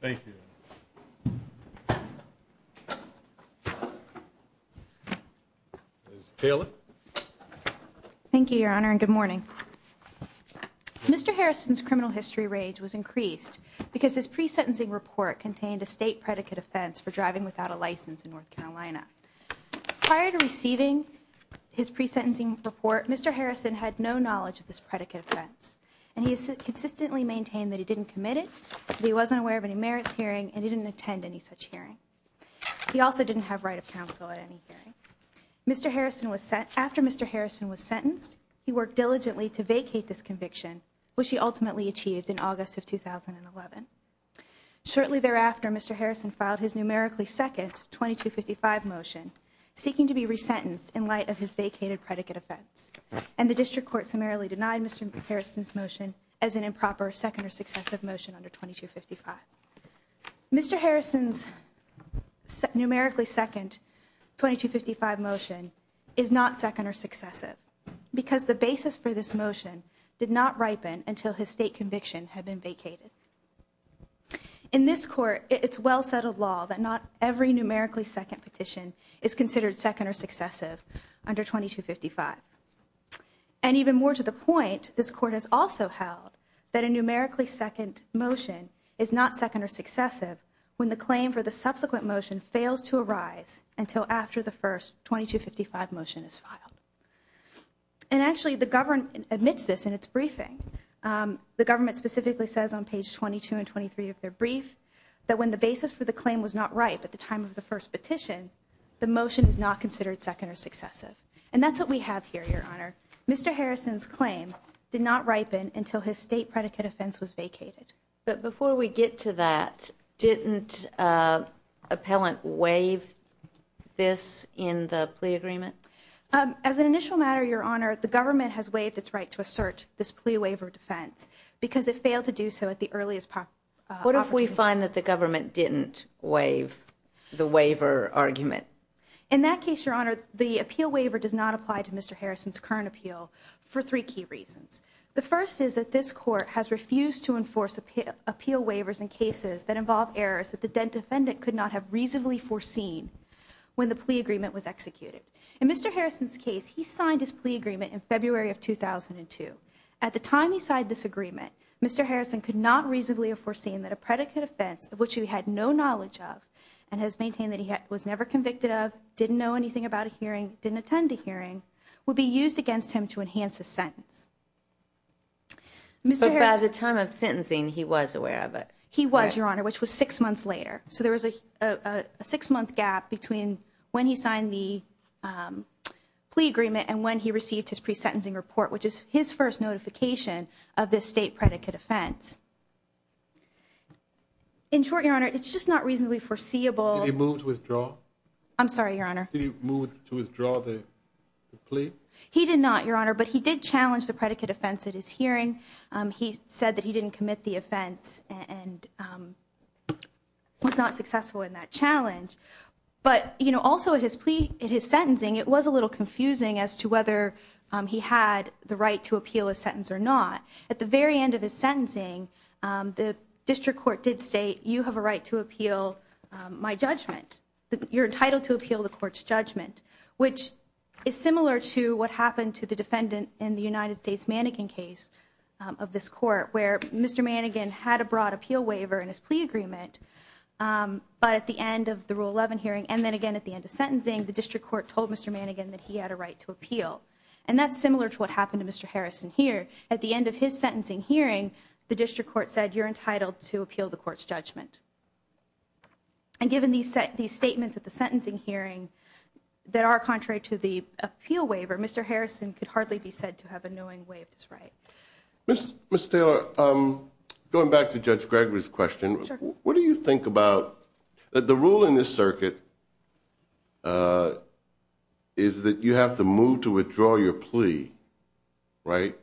Thank you Taylor Thank you, Your Honor and good morning Mr. Harrison's criminal history rage was increased because his pre sentencing report contained a state predicate offense for driving without a license in North Carolina prior to receiving His pre sentencing report. Mr. Harrison had no knowledge of this predicate offense And he has consistently maintained that he didn't commit it. He wasn't aware of any merits hearing and he didn't attend any such hearing He also didn't have right of counsel at any hearing Mr. Harrison was sent after. Mr. Harrison was sentenced. He worked diligently to vacate this conviction Which he ultimately achieved in August of 2011 Shortly thereafter. Mr. Harrison filed his numerically second 2255 motion Seeking to be resentenced in light of his vacated predicate offense and the district court summarily denied Mr. Harrison's motion as an improper second or successive motion under 2255 Mr. Harrison's Numerically second 2255 motion is not second or successive Because the basis for this motion did not ripen until his state conviction had been vacated in This court, it's well settled law that not every numerically second petition is considered second or successive under 2255 And Even more to the point this court has also held that a numerically second motion is not second or successive when the claim for the subsequent motion fails to arise until after the first 2255 motion is filed and Actually the government admits this in its briefing The government specifically says on page 22 and 23 of their brief That when the basis for the claim was not right at the time of the first petition The motion is not considered second or successive and that's what we have here your honor. Mr Harrison's claim did not ripen until his state predicate offense was vacated. But before we get to that didn't appellant waive this in the plea agreement As an initial matter your honor the government has waived its right to assert this plea waiver defense Because it failed to do so at the earliest What if we find that the government didn't waive The waiver argument in that case your honor the appeal waiver does not apply to mr Harrison's current appeal for three key reasons The first is that this court has refused to enforce appeal appeal waivers in cases that involve errors that the dead defendant could not have reasonably foreseen When the plea agreement was executed in mr. Harrison's case, he signed his plea agreement in February of 2002 at the time He signed this agreement. Mr. Harrison could not reasonably have foreseen that a predicate offense of which he had no knowledge of and has maintained that He was never convicted of didn't know anything about a hearing didn't attend a hearing would be used against him to enhance the sentence Mr. By the time of sentencing he was aware of it. He was your honor, which was six months later so there was a six-month gap between when he signed the Plea agreement and when he received his pre-sentencing report, which is his first notification of this state predicate offense In short your honor, it's just not reasonably foreseeable. He moved with draw. I'm sorry your honor. He moved to withdraw the Plea he did not your honor, but he did challenge the predicate offense at his hearing he said that he didn't commit the offense and Was not successful in that challenge But you know also at his plea in his sentencing It was a little confusing as to whether he had the right to appeal a sentence or not at the very end of his sentencing The district court did say you have a right to appeal My judgment that you're entitled to appeal the court's judgment Which is similar to what happened to the defendant in the United States mannequin case of this court where mr Mannequin had a broad appeal waiver and his plea agreement But at the end of the rule 11 hearing and then again at the end of sentencing the district court told mr Mannequin that he had a right to appeal and that's similar to what happened to mr Harrison here at the end of his sentencing hearing the district court said you're entitled to appeal the court's judgment And given these set these statements at the sentencing hearing that are contrary to the appeal waiver. Mr Harrison could hardly be said to have a knowing way of this, right? Mr. Taylor, I'm going back to judge Gregory's question. What do you think about that? The rule in this circuit? Is That you have to move to withdraw your plea right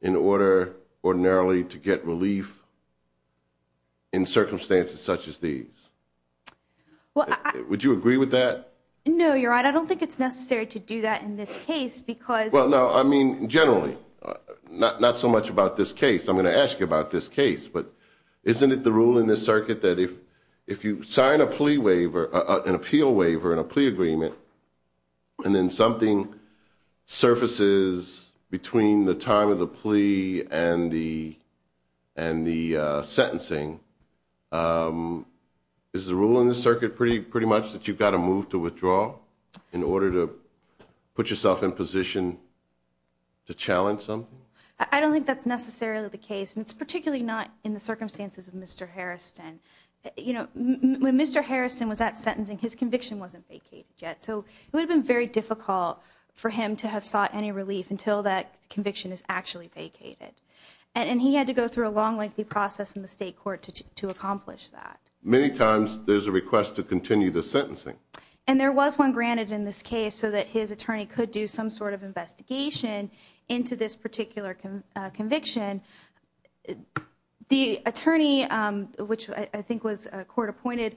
in order ordinarily to get relief in Circumstances such as these Well, would you agree with that? No, you're right. I don't think it's necessary to do that in this case because well No, I mean generally Not not so much about this case I'm going to ask you about this case But isn't it the rule in this circuit that if if you sign a plea waiver an appeal waiver and a plea agreement? and then something surfaces between the time of the plea and the and the sentencing Is the rule in the circuit pretty pretty much that you've got to move to withdraw in order to put yourself in position To challenge something I don't think that's necessarily the case and it's particularly not in the circumstances of mr. Harrison, you know when mr. Harrison was at sentencing his conviction wasn't vacated yet So it would have been very difficult for him to have sought any relief until that conviction is actually vacated And he had to go through a long lengthy process in the state court to accomplish that Many times there's a request to continue the sentencing and there was one granted in this case so that his attorney could do some sort of investigation into this particular conviction the attorney Which I think was a court-appointed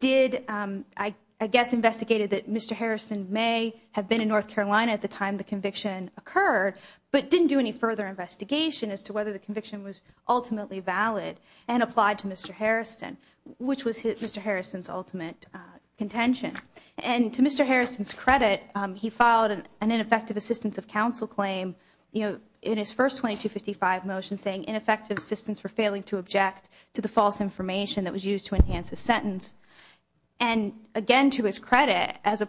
Did I I guess investigated that? Mr. Harrison may have been in North Carolina at the time the conviction occurred but didn't do any further Investigation as to whether the conviction was ultimately valid and applied to mr. Harrison, which was hit mr. Harrison's ultimate Contention and to mr. Harrison's credit he filed an ineffective assistance of counsel claim you know in his first 2255 motion saying ineffective assistance for failing to object to the false information that was used to enhance a sentence and again to his credit as a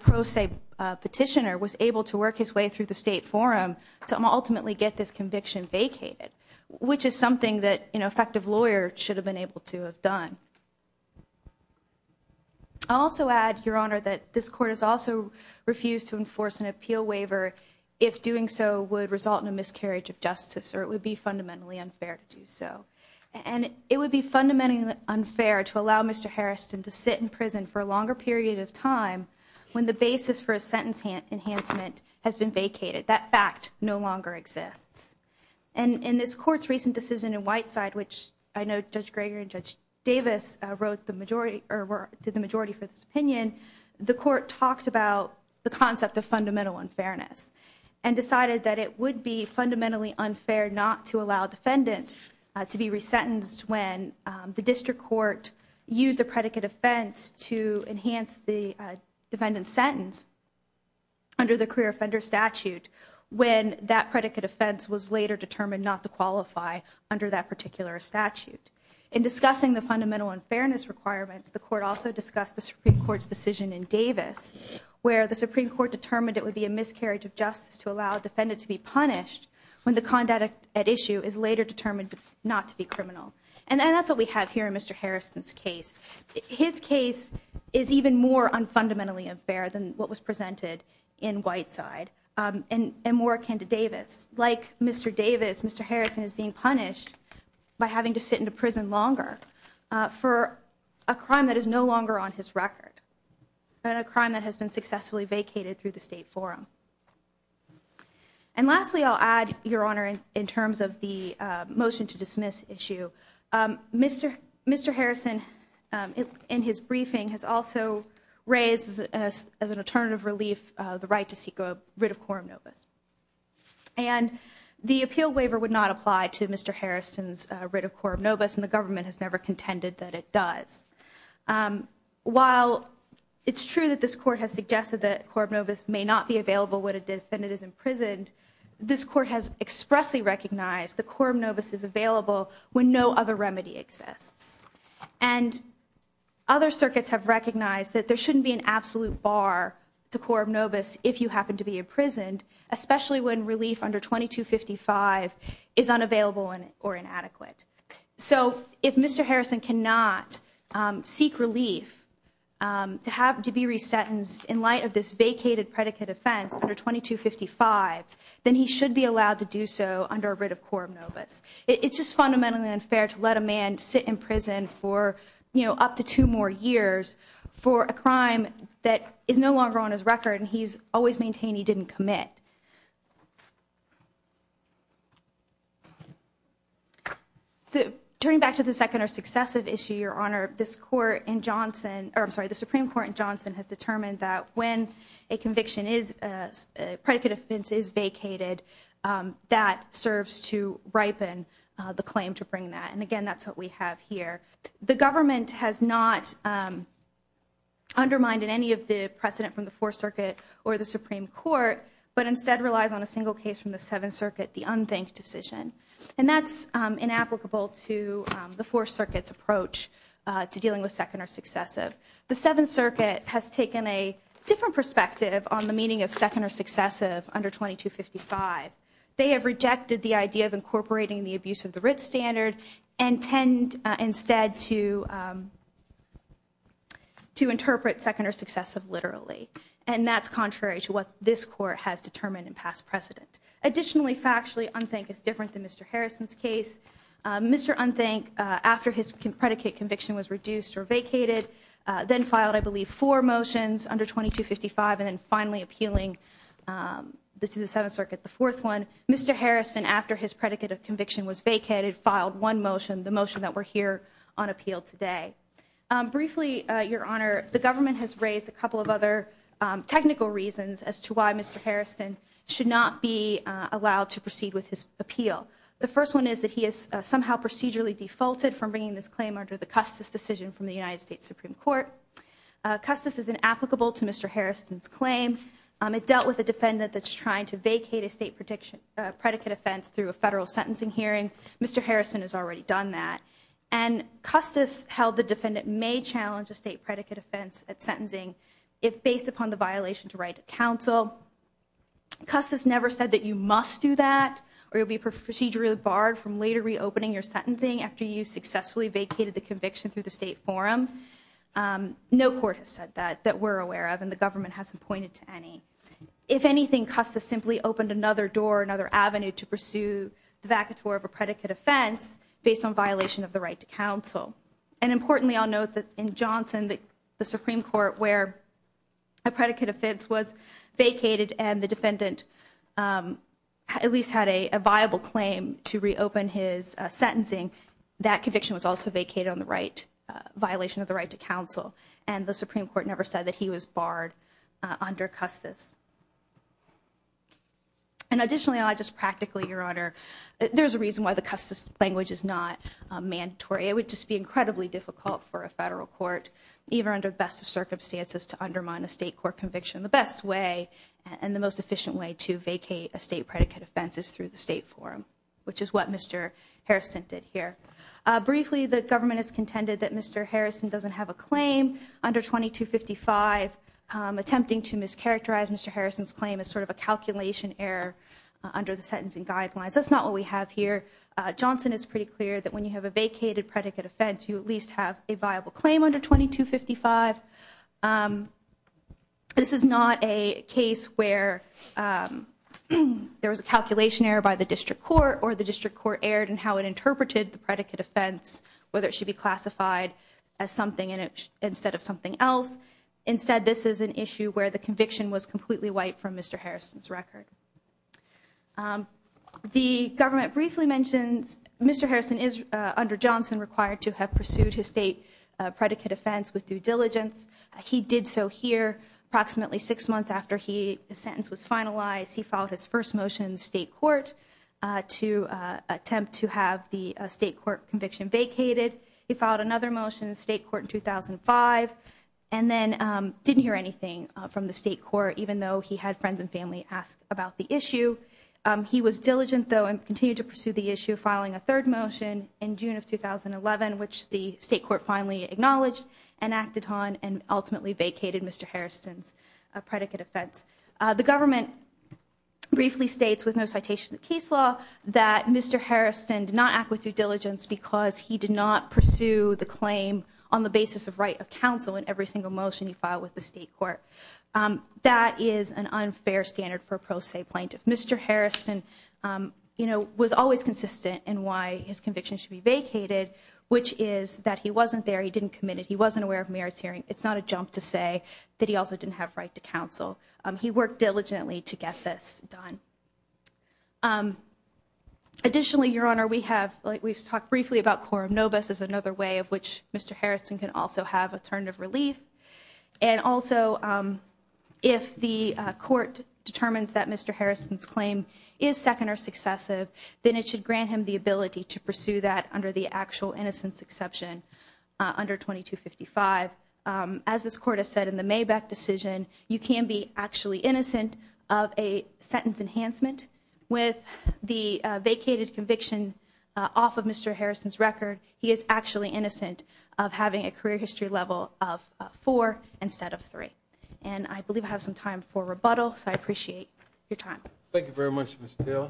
Petitioner was able to work his way through the state forum to ultimately get this conviction vacated Which is something that you know effective lawyer should have been able to have done I also add your honor that this court has also refused to enforce an appeal waiver if Doing so would result in a miscarriage of justice or it would be fundamentally unfair to do so and it would be fundamentally Unfair to allow mr. Harrison to sit in prison for a longer period of time when the basis for a sentence hand enhancement has been vacated that fact No longer exists and in this court's recent decision in Whiteside Which I know judge Gregor and judge Davis wrote the majority or were did the majority for this opinion? the court talked about the concept of fundamental unfairness and Decided that it would be fundamentally unfair not to allow defendant to be resentenced when the district court used a predicate offense to enhance the defendant sentence Under the career offender statute when that predicate offense was later determined not to qualify under that particular statute in Discussing the fundamental unfairness requirements the court also discussed the Supreme Court's decision in Davis Where the Supreme Court determined it would be a miscarriage of justice to allow a defendant to be punished When the conduct at issue is later determined not to be criminal and that's what we have here in mr. Harrison's case his case is even more Unfundamentally unfair than what was presented in Whiteside and and more akin to Davis like mr. Davis. Mr Harrison is being punished by having to sit in a prison longer For a crime that is no longer on his record but a crime that has been successfully vacated through the State Forum and Lastly I'll add your honor in terms of the motion to dismiss issue Mr. Mr. Harrison It in his briefing has also raised as an alternative relief the right to seek a writ of quorum novus And the appeal waiver would not apply to mr. Harrison's writ of quorum novus and the government has never contended that it does While It's true that this court has suggested that quorum novus may not be available when a defendant is imprisoned This court has expressly recognized the quorum novus is available when no other remedy exists and Other circuits have recognized that there shouldn't be an absolute bar to quorum novus if you happen to be imprisoned Especially when relief under 2255 is unavailable and or inadequate So if mr. Harrison cannot seek relief To have to be resentenced in light of this vacated predicate offense under 2255 Then he should be allowed to do so under a writ of quorum novus It's just fundamentally unfair to let a man sit in prison for you know up to two more years For a crime that is no longer on his record, and he's always maintained. He didn't commit The turning back to the second or successive issue your honor this court in Johnson I'm sorry the Supreme Court in Johnson has determined that when a conviction is Predicate offense is vacated That serves to ripen the claim to bring that and again, that's what we have here. The government has not Undermined in any of the precedent from the Fourth Circuit or the Supreme Court But instead relies on a single case from the Seventh Circuit the unthink decision and that's inapplicable to the Fourth Circuit's approach To dealing with second or successive the Seventh Circuit has taken a different perspective on the meaning of second or successive under 2255 they have rejected the idea of incorporating the abuse of the writ standard and tend instead to To interpret second or successive literally and that's contrary to what this court has determined in past precedent Additionally factually unthink is different than mr. Harrison's case Mr. Unthink after his predicate conviction was reduced or vacated Then filed I believe four motions under 2255 and then finally appealing The to the Seventh Circuit the fourth one mr. Harrison after his predicate of conviction was vacated filed one motion the motion that we're here on appeal today Briefly your honor the government has raised a couple of other Technical reasons as to why mr. Harrison should not be allowed to proceed with his appeal the first one is that he is somehow procedurally Defaulted from bringing this claim under the Custis decision from the United States Supreme Court Custis is inapplicable to mr. Harrison's claim it dealt with a defendant that's trying to vacate a state prediction predicate offense through a federal sentencing hearing Mr. Harrison has already done that and Custis held the defendant may challenge a state predicate offense at sentencing if based upon the violation to write a counsel Custis never said that you must do that Or you'll be procedurally barred from later reopening your sentencing after you successfully vacated the conviction through the state forum No court has said that that we're aware of and the government hasn't pointed to any If anything Custis simply opened another door another Avenue to pursue the vaca tour of a predicate offense based on violation of the right to counsel and importantly, I'll note that in Johnson that the Supreme Court where a Defendant At least had a viable claim to reopen his sentencing that conviction was also vacated on the right Violation of the right to counsel and the Supreme Court never said that he was barred under Custis And additionally, I just practically your honor there's a reason why the Custis language is not Mandatory, it would just be incredibly difficult for a federal court Even under the best of circumstances to undermine a state court conviction the best way And the most efficient way to vacate a state predicate offense is through the state forum, which is what mr. Harrison did here Briefly, the government has contended that mr. Harrison doesn't have a claim under 2255 Attempting to mischaracterize. Mr. Harrison's claim is sort of a calculation error under the sentencing guidelines. That's not what we have here Johnson is pretty clear that when you have a vacated predicate offense, you at least have a viable claim under 2255 This is not a case where There was a calculation error by the district court or the district court erred and how it interpreted the predicate offense Whether it should be classified as something in it instead of something else Instead this is an issue where the conviction was completely wiped from. Mr. Harrison's record The Government briefly mentions. Mr. Harrison is under Johnson required to have pursued his state Predicate offense with due diligence. He did so here approximately six months after he the sentence was finalized He followed his first motion state court to attempt to have the state court conviction vacated he filed another motion the state court in 2005 and Didn't hear anything from the state court, even though he had friends and family asked about the issue He was diligent though and continued to pursue the issue filing a third motion in June of 2011 Which the state court finally acknowledged and acted on and ultimately vacated. Mr. Harrison's a predicate offense the government Briefly states with no citation the case law that mr Harrison did not act with due diligence because he did not pursue the claim on the basis of right of counsel in every single motion He filed with the state court That is an unfair standard for a pro se plaintiff. Mr. Harrison You know was always consistent and why his conviction should be vacated which is that he wasn't there. He didn't commit it He wasn't aware of marriage hearing. It's not a jump to say that. He also didn't have right to counsel He worked diligently to get this done Additionally Your honor we have like we've talked briefly about quorum No bus is another way of which. Mr. Harrison can also have a turn of relief and also If the court determines that mr Harrison's claim is second or successive then it should grant him the ability to pursue that under the actual innocence exception under 2255 As this court has said in the Maybach decision you can be actually innocent of a sentence enhancement with the vacated conviction Off of mr. Harrison's record. He is actually innocent of having a career history level of Four instead of three and I believe I have some time for rebuttal. So I appreciate your time. Thank you very much I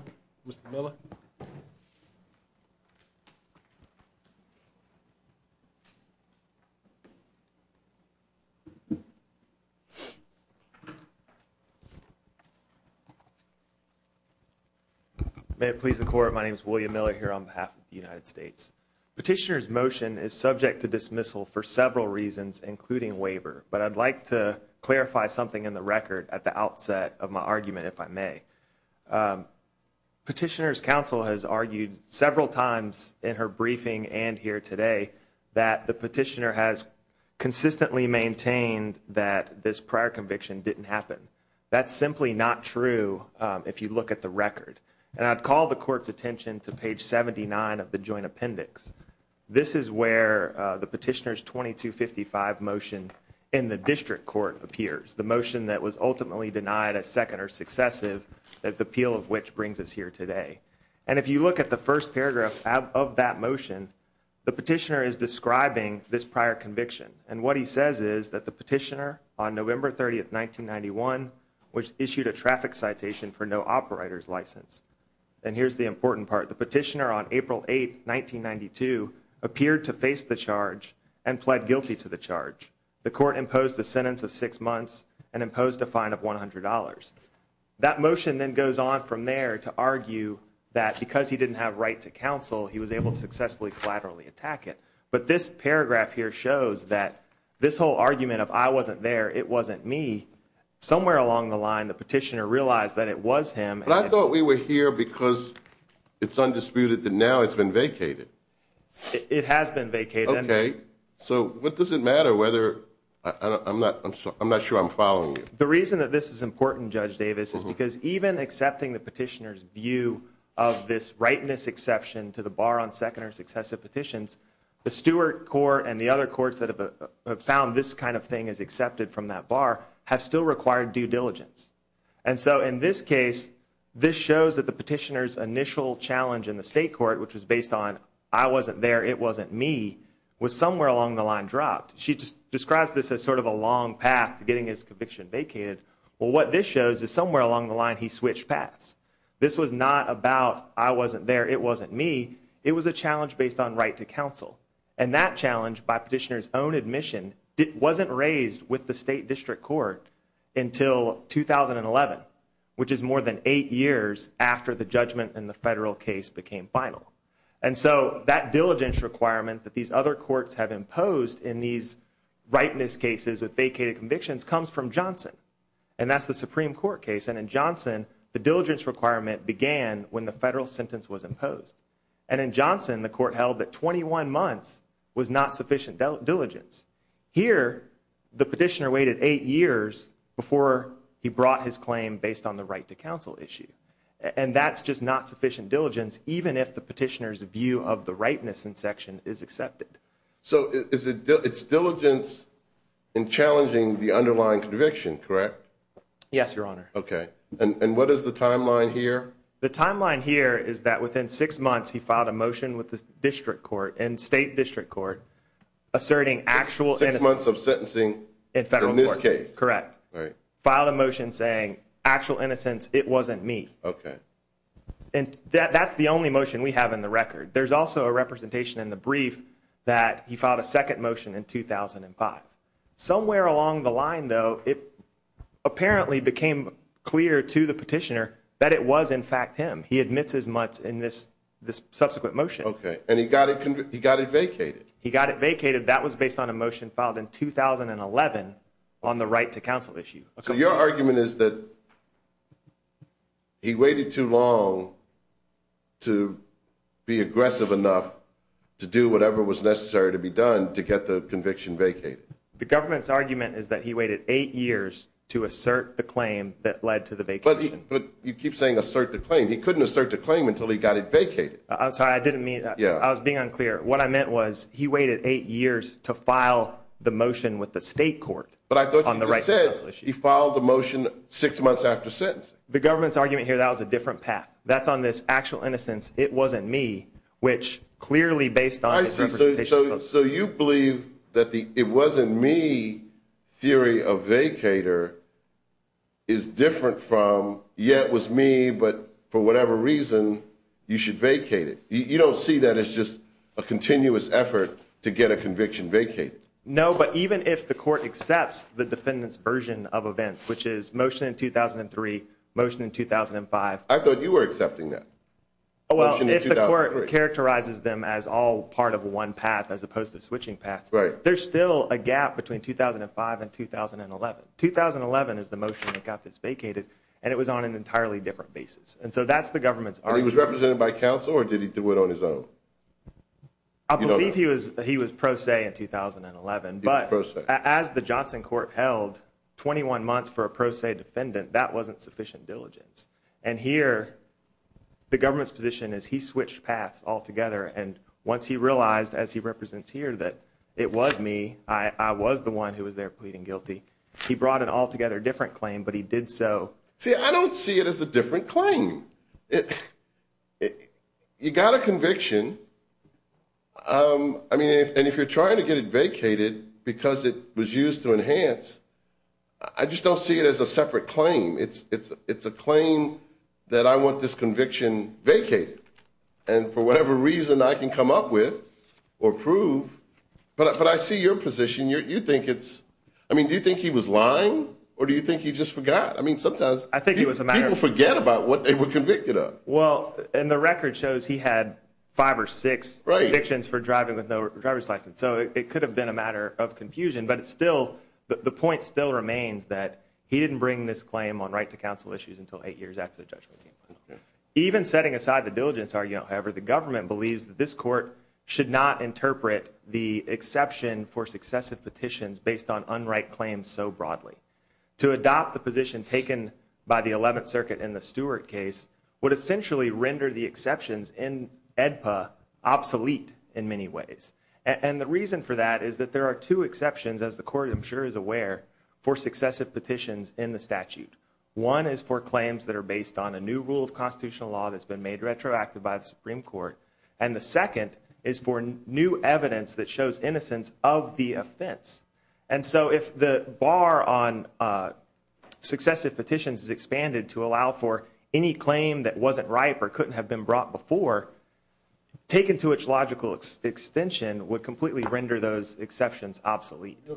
May have pleased the court. My name is William Miller here on behalf of the United States Petitioners motion is subject to dismissal for several reasons including waiver But I'd like to clarify something in the record at the outset of my argument if I may Petitioners counsel has argued several times in her briefing and here today that the petitioner has Consistently maintained that this prior conviction didn't happen That's simply not true. If you look at the record and I'd call the court's attention to page 79 of the joint appendix This is where the petitioners 2255 motion in the district court appears the motion that was ultimately denied a second or successive That the appeal of which brings us here today And if you look at the first paragraph of that motion The petitioner is describing this prior conviction and what he says is that the petitioner on November 30th 1991 which issued a traffic citation for no operators license and here's the important part the petitioner on April 8th 1992 appeared to face the charge and pled guilty to the charge The court imposed the sentence of six months and imposed a fine of $100 That motion then goes on from there to argue that because he didn't have right to counsel He was able to successfully collaterally attack it But this paragraph here shows that this whole argument of I wasn't there. It wasn't me Somewhere along the line the petitioner realized that it was him and I thought we were here because it's undisputed that now it's been vacated It has been vacated. Okay, so what does it matter whether I'm not? I'm not sure. I'm following you The reason that this is important judge Davis is because even accepting the petitioners view of this rightness exception to the bar on second or successive petitions the Stewart court and the other courts that have Found this kind of thing is accepted from that bar have still required due diligence And so in this case this shows that the petitioners initial challenge in the state court, which was based on I wasn't there It wasn't me was somewhere along the line dropped She just describes this as sort of a long path to getting his conviction vacated Well, what this shows is somewhere along the line he switched paths. This was not about I wasn't there It wasn't me It was a challenge based on right to counsel and that challenge by petitioners own admission It wasn't raised with the state district court until 2011 which is more than eight years after the judgment in the federal case became final and So that diligence requirement that these other courts have imposed in these Rightness cases with vacated convictions comes from Johnson and that's the Supreme Court case and in Johnson the diligence Requirement began when the federal sentence was imposed and in Johnson the court held that 21 months was not sufficient diligence Here the petitioner waited eight years before he brought his claim based on the right to counsel issue And that's just not sufficient diligence even if the petitioners view of the rightness in section is accepted So is it it's diligence and challenging the underlying conviction, correct? Yes, your honor. Okay, and what is the timeline here? The timeline here is that within six months? He filed a motion with the district court and state district court Asserting actual six months of sentencing in federal this case, correct? Filed a motion saying actual innocence. It wasn't me. Okay, and That's the only motion we have in the record There's also a representation in the brief that he filed a second motion in 2005 somewhere along the line though it Apparently became clear to the petitioner that it was in fact him He admits as much in this this subsequent motion. Okay, and he got it. He got it vacated He got it vacated that was based on a motion filed in 2011 on the right to counsel issue. So your argument is that He waited too long to Be aggressive enough to do whatever was necessary to be done to get the conviction vacated The government's argument is that he waited eight years to assert the claim that led to the vacation But you keep saying assert the claim. He couldn't assert the claim until he got it vacated. I'm sorry I didn't mean yeah What I meant was he waited eight years to file the motion with the state court But I thought on the right said he followed the motion six months after since the government's argument here That was a different path. That's on this actual innocence. It wasn't me which clearly based on So you believe that the it wasn't me? theory of vacator is Different from yet was me, but for whatever reason you should vacate it You don't see that. It's just a continuous effort to get a conviction vacate No, but even if the court accepts the defendants version of events, which is motion in 2003 motion in 2005 I thought you were accepting that Characterizes them as all part of one path as opposed to switching paths, right? There's still a gap between 2005 and 2011 2011 is the motion that got this vacated and it was on an entirely different basis And so that's the government's party was represented by council, or did he do it on his own? I believe he was he was pro se in 2011 But as the Johnson court held 21 months for a pro se defendant that wasn't sufficient diligence and here The government's position is he switched paths altogether And once he realized as he represents here that it was me I was the one who was there pleading guilty. He brought an altogether different claim, but he did so see I don't see it as a different claim it You got a conviction I mean if and if you're trying to get it vacated because it was used to enhance I Just don't see it as a separate claim. It's it's it's a claim that I want this conviction vacate And for whatever reason I can come up with or prove But I see your position you think it's I mean do you think he was lying or do you think he just forgot? I mean sometimes I think it was a matter forget about what they were convicted of well And the record shows he had five or six predictions for driving with no driver's license So it could have been a matter of confusion But it's still the point still remains that he didn't bring this claim on right to counsel issues until eight years after the judgment even setting aside the diligence are you know however the government believes that this court should not interpret the Unright claims so broadly to adopt the position taken by the 11th circuit in the Stewart case would essentially render the exceptions in edpa Obsolete in many ways and the reason for that is that there are two exceptions as the court I'm sure is aware for successive petitions in the statute One is for claims that are based on a new rule of constitutional law that's been made retroactive by the Supreme Court and the second is for new evidence that shows innocence of the offense and so if the bar on Successive petitions is expanded to allow for any claim that wasn't ripe or couldn't have been brought before Taken to its logical extension would completely render those exceptions obsolete The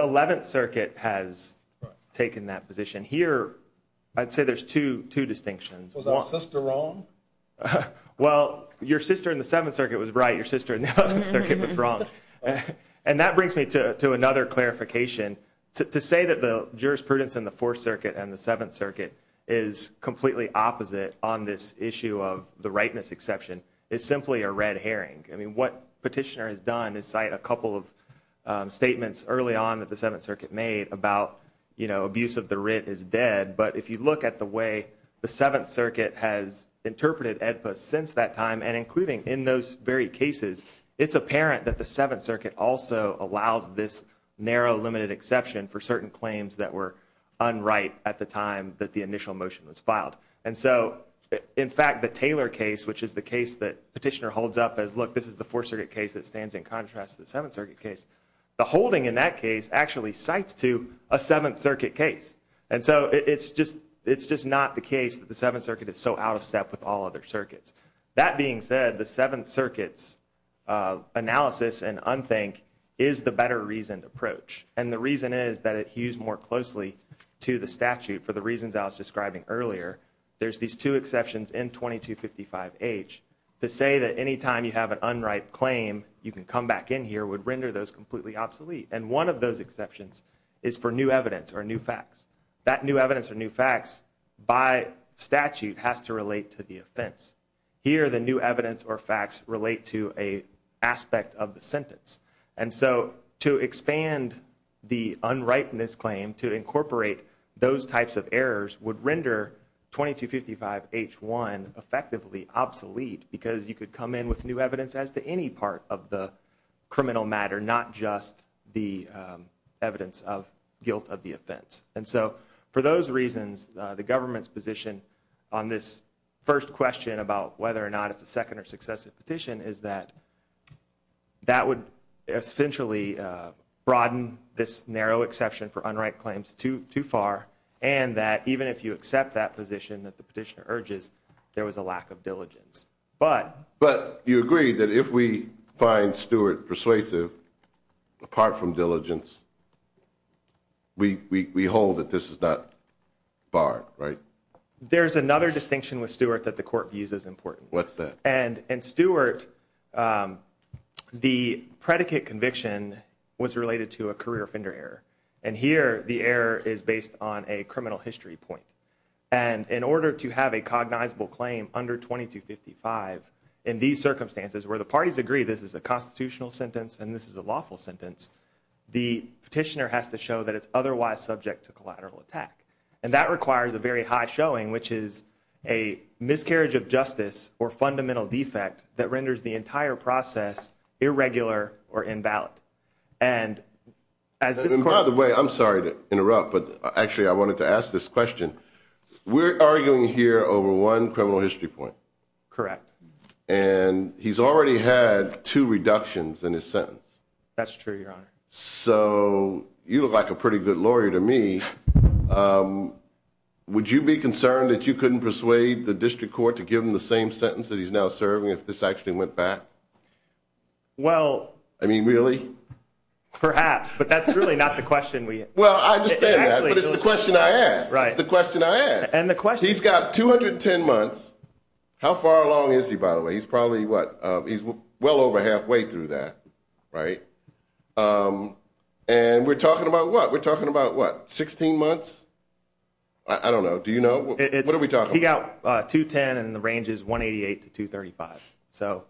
11th circuit has Huh, well your sister in the 7th circuit was right your sister in the circuit was wrong and and that brings me to another clarification to say that the jurisprudence in the 4th circuit and the 7th circuit is Completely opposite on this issue of the rightness exception. It's simply a red herring I mean what petitioner has done is cite a couple of Statements early on that the 7th circuit made about you know abuse of the writ is dead But if you look at the way the 7th circuit has Interpreted EDPA since that time and including in those very cases It's apparent that the 7th circuit also allows this narrow limited exception for certain claims that were Unright at the time that the initial motion was filed And so in fact the Taylor case, which is the case that petitioner holds up as look This is the 4th circuit case that stands in contrast to the 7th circuit case The holding in that case actually cites to a 7th circuit case And so it's just it's just not the case that the 7th circuit is so out of step with all other circuits That being said the 7th circuits Analysis and unthink is the better reasoned approach and the reason is that it hues more closely To the statute for the reasons I was describing earlier There's these two exceptions in 2255 H to say that anytime you have an unright claim You can come back in here would render those completely obsolete and one of those exceptions is for new evidence or new facts That new evidence or new facts by statute has to relate to the offense here the new evidence or facts relate to a Aspect of the sentence and so to expand the unrightness claim to incorporate those types of errors would render 2255 h1 effectively obsolete because you could come in with new evidence as to any part of the criminal matter not just the Evidence of guilt of the offense and so for those reasons the government's position on this first question about whether or not it's a second or successive petition is that that would essentially Broaden this narrow exception for unright claims to too far and that even if you accept that position that the petitioner urges There was a lack of diligence, but but you agree that if we find Stewart persuasive apart from diligence We we hold that this is not Barred right there's another distinction with Stewart that the court views is important. What's that and and Stewart? The predicate conviction was related to a career offender error and here the error is based on a criminal history point and In order to have a cognizable claim under 2255 in these circumstances where the parties agree This is a constitutional sentence and this is a lawful sentence the petitioner has to show that it's otherwise subject to collateral attack and that requires a very high showing which is a Entire process irregular or in ballot and As by the way, I'm sorry to interrupt, but actually I wanted to ask this question we're arguing here over one criminal history point correct and He's already had two reductions in his sentence. That's true your honor, so You look like a pretty good lawyer to me Would you be concerned that you couldn't persuade the district court to give him the same sentence that he's now serving if this actually went back Well, I mean really Perhaps, but that's really not the question. We well Right the question I had and the question he's got 210 months How far along is he by the way? He's probably what he's well over halfway through that, right? And we're talking about what we're talking about what 16 months. I Don't know. Do you know what are we talking about 210 and the range is 188 to 235 so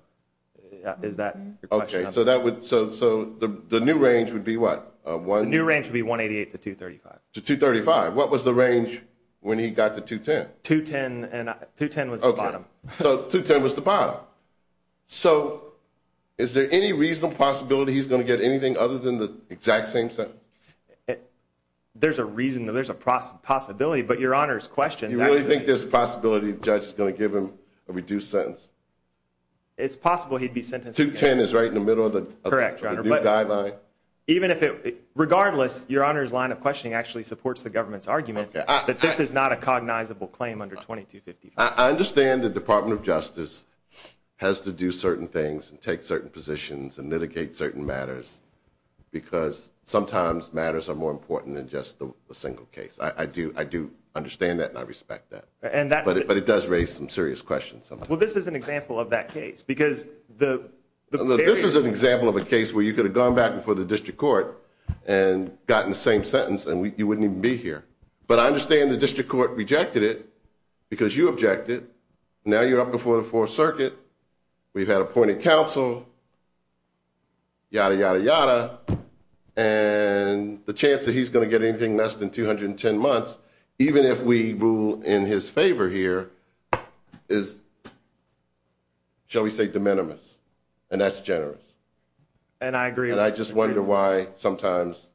Is that okay? So that would so so the new range would be what one new range would be 188 to 235 to 235 What was the range when he got to 210 210 and 210 was okay. So 210 was the bottom So is there any reasonable possibility? He's going to get anything other than the exact same sentence it There's a reason though. There's a process possibility, but your honors question. I think this possibility judge is going to give him a reduced sentence It's possible he'd be sentenced to 10 is right in the middle of the correct Even if it regardless your honors line of questioning actually supports the government's argument that this is not a cognizable claim under 2250 I understand the Department of Justice Has to do certain things and take certain positions and mitigate certain matters Because sometimes matters are more important than just the single case I do I do understand that and I respect that and that but it does raise some serious questions well, this is an example of that case because the this is an example of a case where you could have gone back before the district court and Got in the same sentence and we wouldn't even be here But I understand the district court rejected it because you objected now you're up before the Fourth Circuit We've had appointed counsel Yada yada yada and The chance that he's going to get anything less than 210 months, even if we rule in his favor here is Shall we say de minimis and that's generous and I agree and I just wonder why sometimes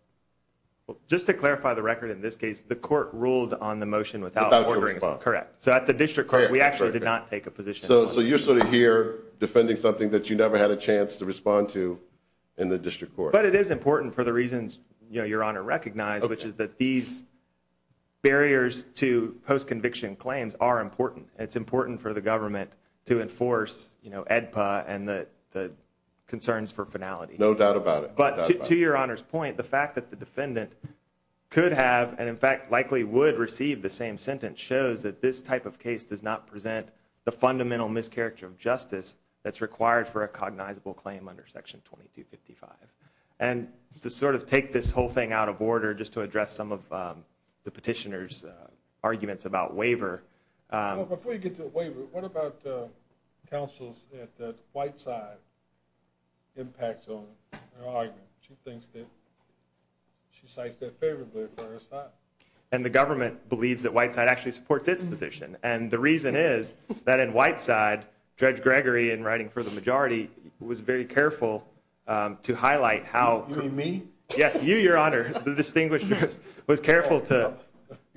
Just to clarify the record in this case the court ruled on the motion without ordering It's not correct. So at the district court, we actually did not take a position So so you're sort of here defending something that you never had a chance to respond to in the district court But it is important for the reasons, you know, your honor recognized, which is that these Barriers to post-conviction claims are important. It's important for the government to enforce, you know edpa and the Concerns for finality no doubt about it, but to your honor's point the fact that the defendant Could have and in fact likely would receive the same sentence shows that this type of case does not present the fundamental mischaracter of justice that's required for a cognizable claim under section 2255 and To sort of take this whole thing out of order just to address some of the petitioners arguments about waiver And the government believes that white side actually supports its position and the reason is that in white side Judge Gregory and writing for the majority was very careful To highlight how me? Yes you your honor the distinguished was careful to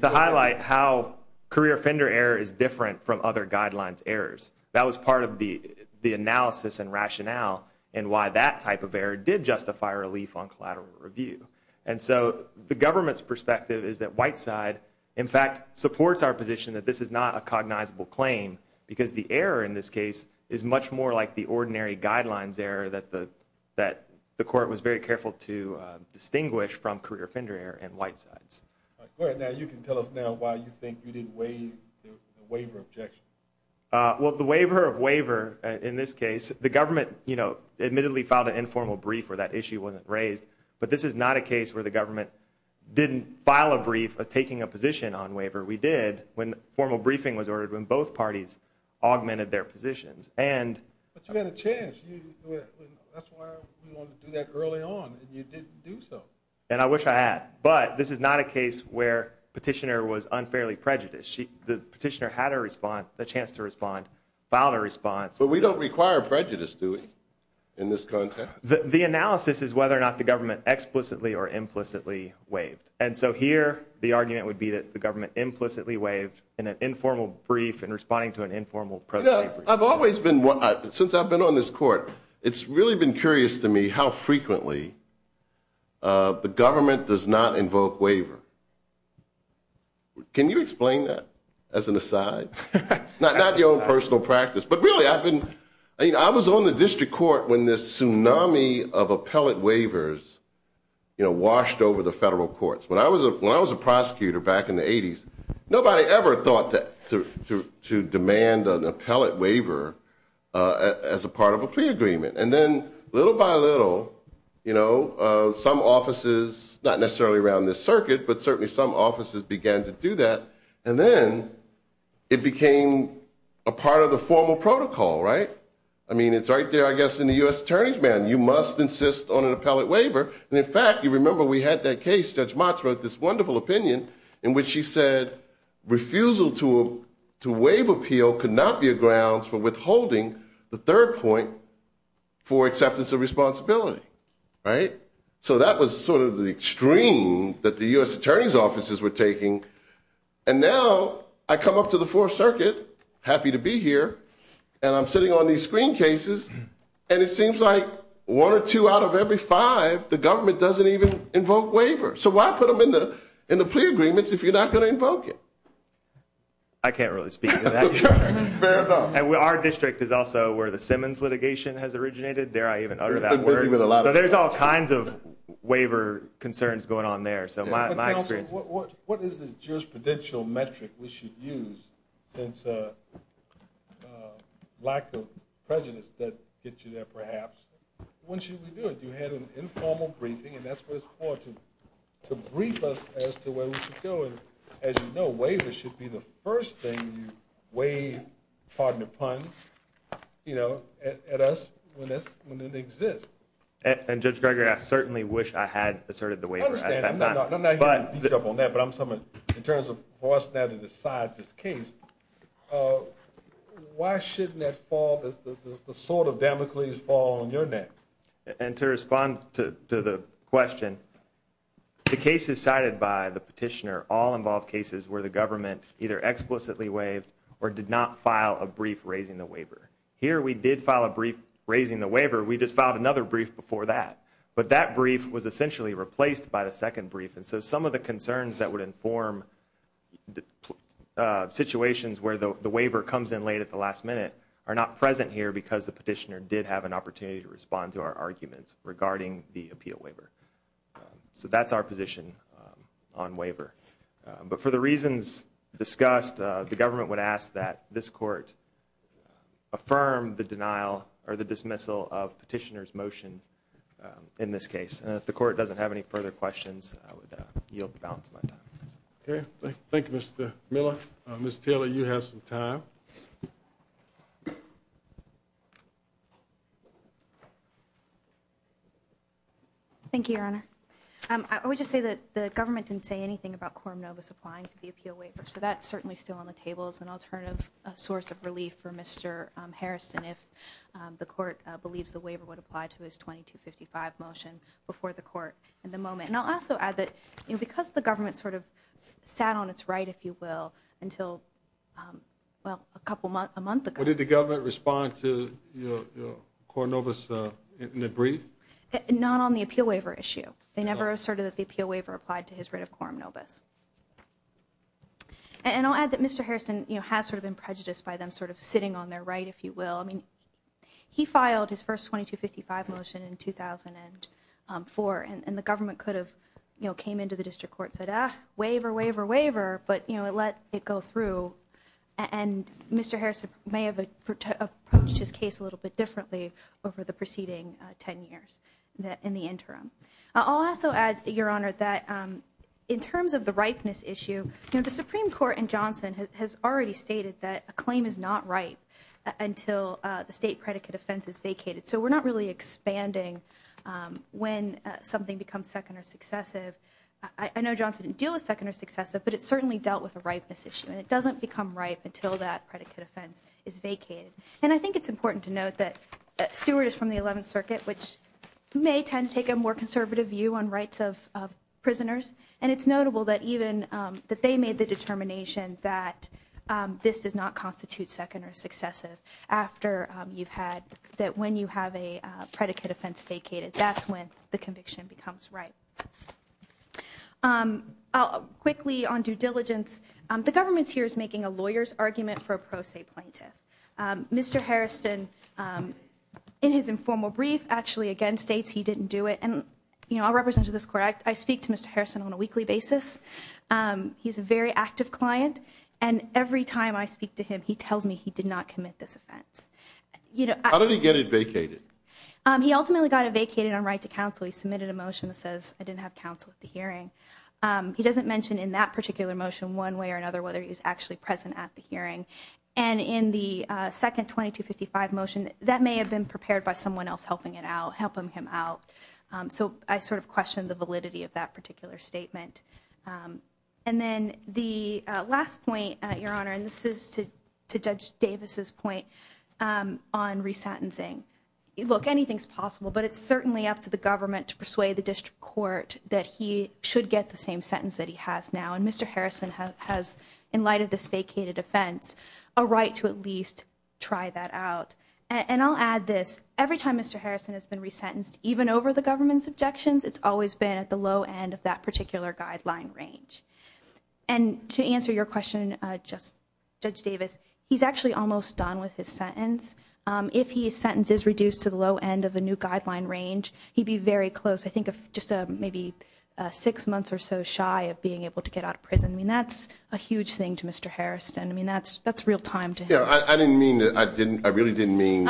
Highlight how career offender error is different from other guidelines errors That was part of the the analysis and rationale and why that type of error did justify relief on collateral review And so the government's perspective is that white side in fact supports our position that this is not a cognizable claim Because the error in this case is much more like the ordinary guidelines error that the that the court was very careful to Distinguish from career offender error and white sides Well the waiver of waiver in this case the government, you know admittedly filed an informal brief or that issue wasn't raised But this is not a case where the government Didn't file a brief of taking a position on waiver we did when formal briefing was ordered when both parties augmented their positions and And I wish I had but this is not a case where petitioner was unfairly prejudiced She the petitioner had a response the chance to respond found a response, but we don't require prejudice doing in this context The analysis is whether or not the government explicitly or implicitly Waived and so here the argument would be that the government implicitly waived in an informal brief and responding to an informal I've always been what since I've been on this court. It's really been curious to me how frequently The government does not invoke waiver Can you explain that as an aside Not your own personal practice, but really I've been I mean I was on the district court when this tsunami of appellate waivers You know washed over the federal courts when I was a when I was a prosecutor back in the 80s Nobody ever thought that to demand an appellate waiver As a part of a plea agreement and then little by little You know some offices not necessarily around this circuit, but certainly some offices began to do that and then It became a part of the formal protocol right I mean, it's right there I guess in the US Attorney's Band you must insist on an appellate waiver and in fact you remember we had that case judge Mott's wrote this wonderful opinion in which she said Refusal to to waive appeal could not be a grounds for withholding the third point for acceptance of responsibility Right so that was sort of the extreme that the US Attorney's offices were taking and now I come up to the 4th Circuit happy to be here And I'm sitting on these screen cases And it seems like one or two out of every five the government doesn't even invoke waiver So why put them in the in the plea agreements if you're not going to invoke it I? Can't really speak And we our district is also where the Simmons litigation has originated dare. I even utter that word with a lot So there's all kinds of waiver concerns going on there, so my experience What is the jurisprudential metric we should use since Lack of prejudice that get you there perhaps When should we do it you had an informal briefing and that's what it's important To brief us as to where we should go and as you know waiver should be the first thing you wave pardon the pun You know at us when this when it exists and judge Gregory. I certainly wish I had asserted the way I'm not on that, but I'm someone in terms of what's now to decide this case Why shouldn't that fall the sort of Damocles fall on your neck and to respond to the question The case is cited by the petitioner all involved cases where the government either Explicitly waived or did not file a brief raising the waiver here. We did file a brief raising the waiver We just filed another brief before that, but that brief was essentially replaced by the second brief and so some of the concerns that would inform Situations where the waiver comes in late at the last minute are not present here because the petitioner did have an opportunity to respond to our arguments regarding the appeal waiver So that's our position on waiver, but for the reasons discussed the government would ask that this court Affirm the denial or the dismissal of petitioners motion In this case and if the court doesn't have any further questions, I would yield the balance of my time. Okay. Thank you. Mr Miller, mr. Taylor you have some time Thank You Your Honor We just say that the government didn't say anything about quorum Nova supplying to the appeal waiver So that's certainly still on the tables and alternative a source of relief for mr Harrison if the court believes the waiver would apply to his 2255 motion before the court in the moment and I'll also add that you know because the government sort of sat on its right if you will until Well a couple month a month ago. Did the government respond to? Corn over so in a brief not on the appeal waiver issue. They never asserted that the appeal waiver applied to his writ of quorum Novus And I'll add that. Mr. Harrison, you know has sort of been prejudiced by them sort of sitting on their right if you will I mean he filed his first 2255 motion in 2004 and the government could have you know came into the district court said ah waiver waiver waiver, but you know It let it go through and Mr. Harrison may have a Just case a little bit differently over the preceding 10 years that in the interim I'll also add your honor that In terms of the ripeness issue, you know, the Supreme Court and Johnson has already stated that a claim is not right Until the state predicate offense is vacated. So we're not really expanding When something becomes second or successive I know Johnson didn't deal with second or successive But it certainly dealt with a ripeness issue and it doesn't become ripe until that predicate offense is vacated and I think it's important to note that that Stewart is from the 11th Circuit which May tend to take a more conservative view on rights of prisoners and it's notable that even that they made the determination that This does not constitute second or successive after you've had that when you have a predicate offense vacated That's when the conviction becomes, right? Quickly on due diligence the government's here is making a lawyer's argument for a pro se plaintiff Mr. Harrison In his informal brief actually again states he didn't do it and you know, I'll represent to this correct I speak to mr. Harrison on a weekly basis He's a very active client and every time I speak to him. He tells me he did not commit this offense You know, how did he get it vacated? He ultimately got it vacated on right to counsel. He submitted a motion that says I didn't have counsel at the hearing he doesn't mention in that particular motion one way or another whether he was actually present at the hearing and in the Second 2255 motion that may have been prepared by someone else helping it out helping him out so I sort of questioned the validity of that particular statement and Then the last point your honor and this is to to judge Davis's point on resentencing Look anything's possible But it's certainly up to the government to persuade the district court that he should get the same sentence that he has now and mr Harrison has in light of this vacated offense a right to at least Try that out and I'll add this every time. Mr. Harrison has been resentenced even over the government's objections it's always been at the low end of that particular guideline range and To answer your question just judge Davis. He's actually almost done with his sentence If he sentences reduced to the low end of a new guideline range, he'd be very close. I think of just maybe Six months or so shy of being able to get out of prison. I mean, that's a huge thing to mr. Harrison I mean, that's that's real time to yeah, I didn't mean that I didn't I really didn't mean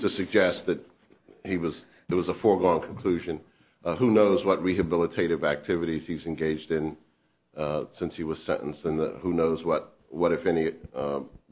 To suggest that he was there was a foregone conclusion Who knows what rehabilitative activities he's engaged in? Since he was sentenced and who knows what what if any?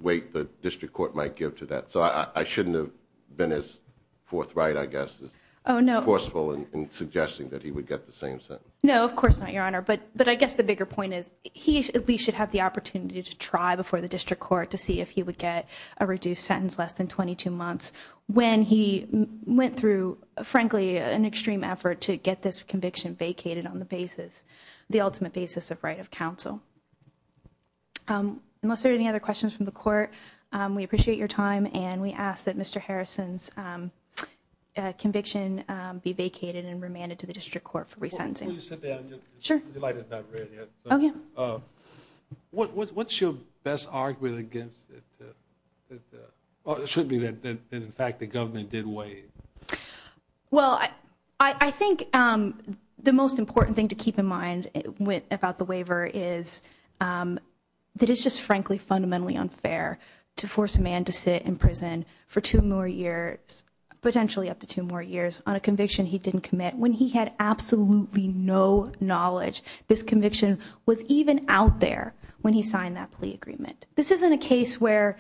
Weight the district court might give to that so I shouldn't have been as forthright. I guess Oh, no forceful and suggesting that he would get the same sentence No, of course not your honor but but I guess the bigger point is he at least should have the opportunity to try before the district court to see if he Would get a reduced sentence less than 22 months when he went through Frankly an extreme effort to get this conviction vacated on the basis the ultimate basis of right of counsel Unless there any other questions from the court we appreciate your time and we ask that mr. Harrison's Conviction be vacated and remanded to the district court for resentencing Sure What what's your best argument against it Should be that in fact the government did wait well, I I think the most important thing to keep in mind it went about the waiver is That it's just frankly fundamentally unfair to force a man to sit in prison for two more years Potentially up to two more years on a conviction. He didn't commit when he had absolutely no knowledge This conviction was even out there when he signed that plea agreement. This isn't a case where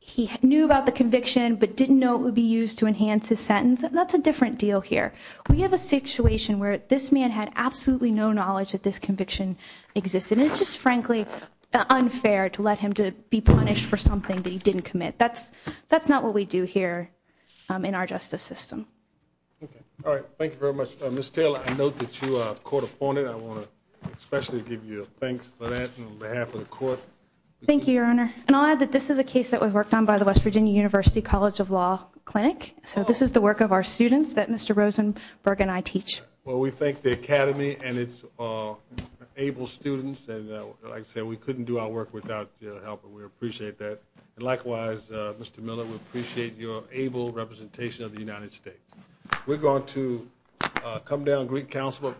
He knew about the conviction, but didn't know it would be used to enhance his sentence. That's a different deal here We have a situation where this man had absolutely no knowledge that this conviction existed. It's just frankly Unfair to let him to be punished for something that he didn't commit. That's that's not what we do here in our justice system All right. Thank you very much. Mr. Taylor. I note that you are court-appointed. I want to especially give you a thanks Thank you your honor and I'll add that this is a case that was worked on by the West Virginia University College of Law Clinic, so this is the work of our students that mr. Rosenberg and I teach. Well, we thank the Academy and it's Able students and I said we couldn't do our work without your help. We appreciate that and likewise. Mr. Miller Appreciate your able representation of the United States. We're going to Come down Greek Council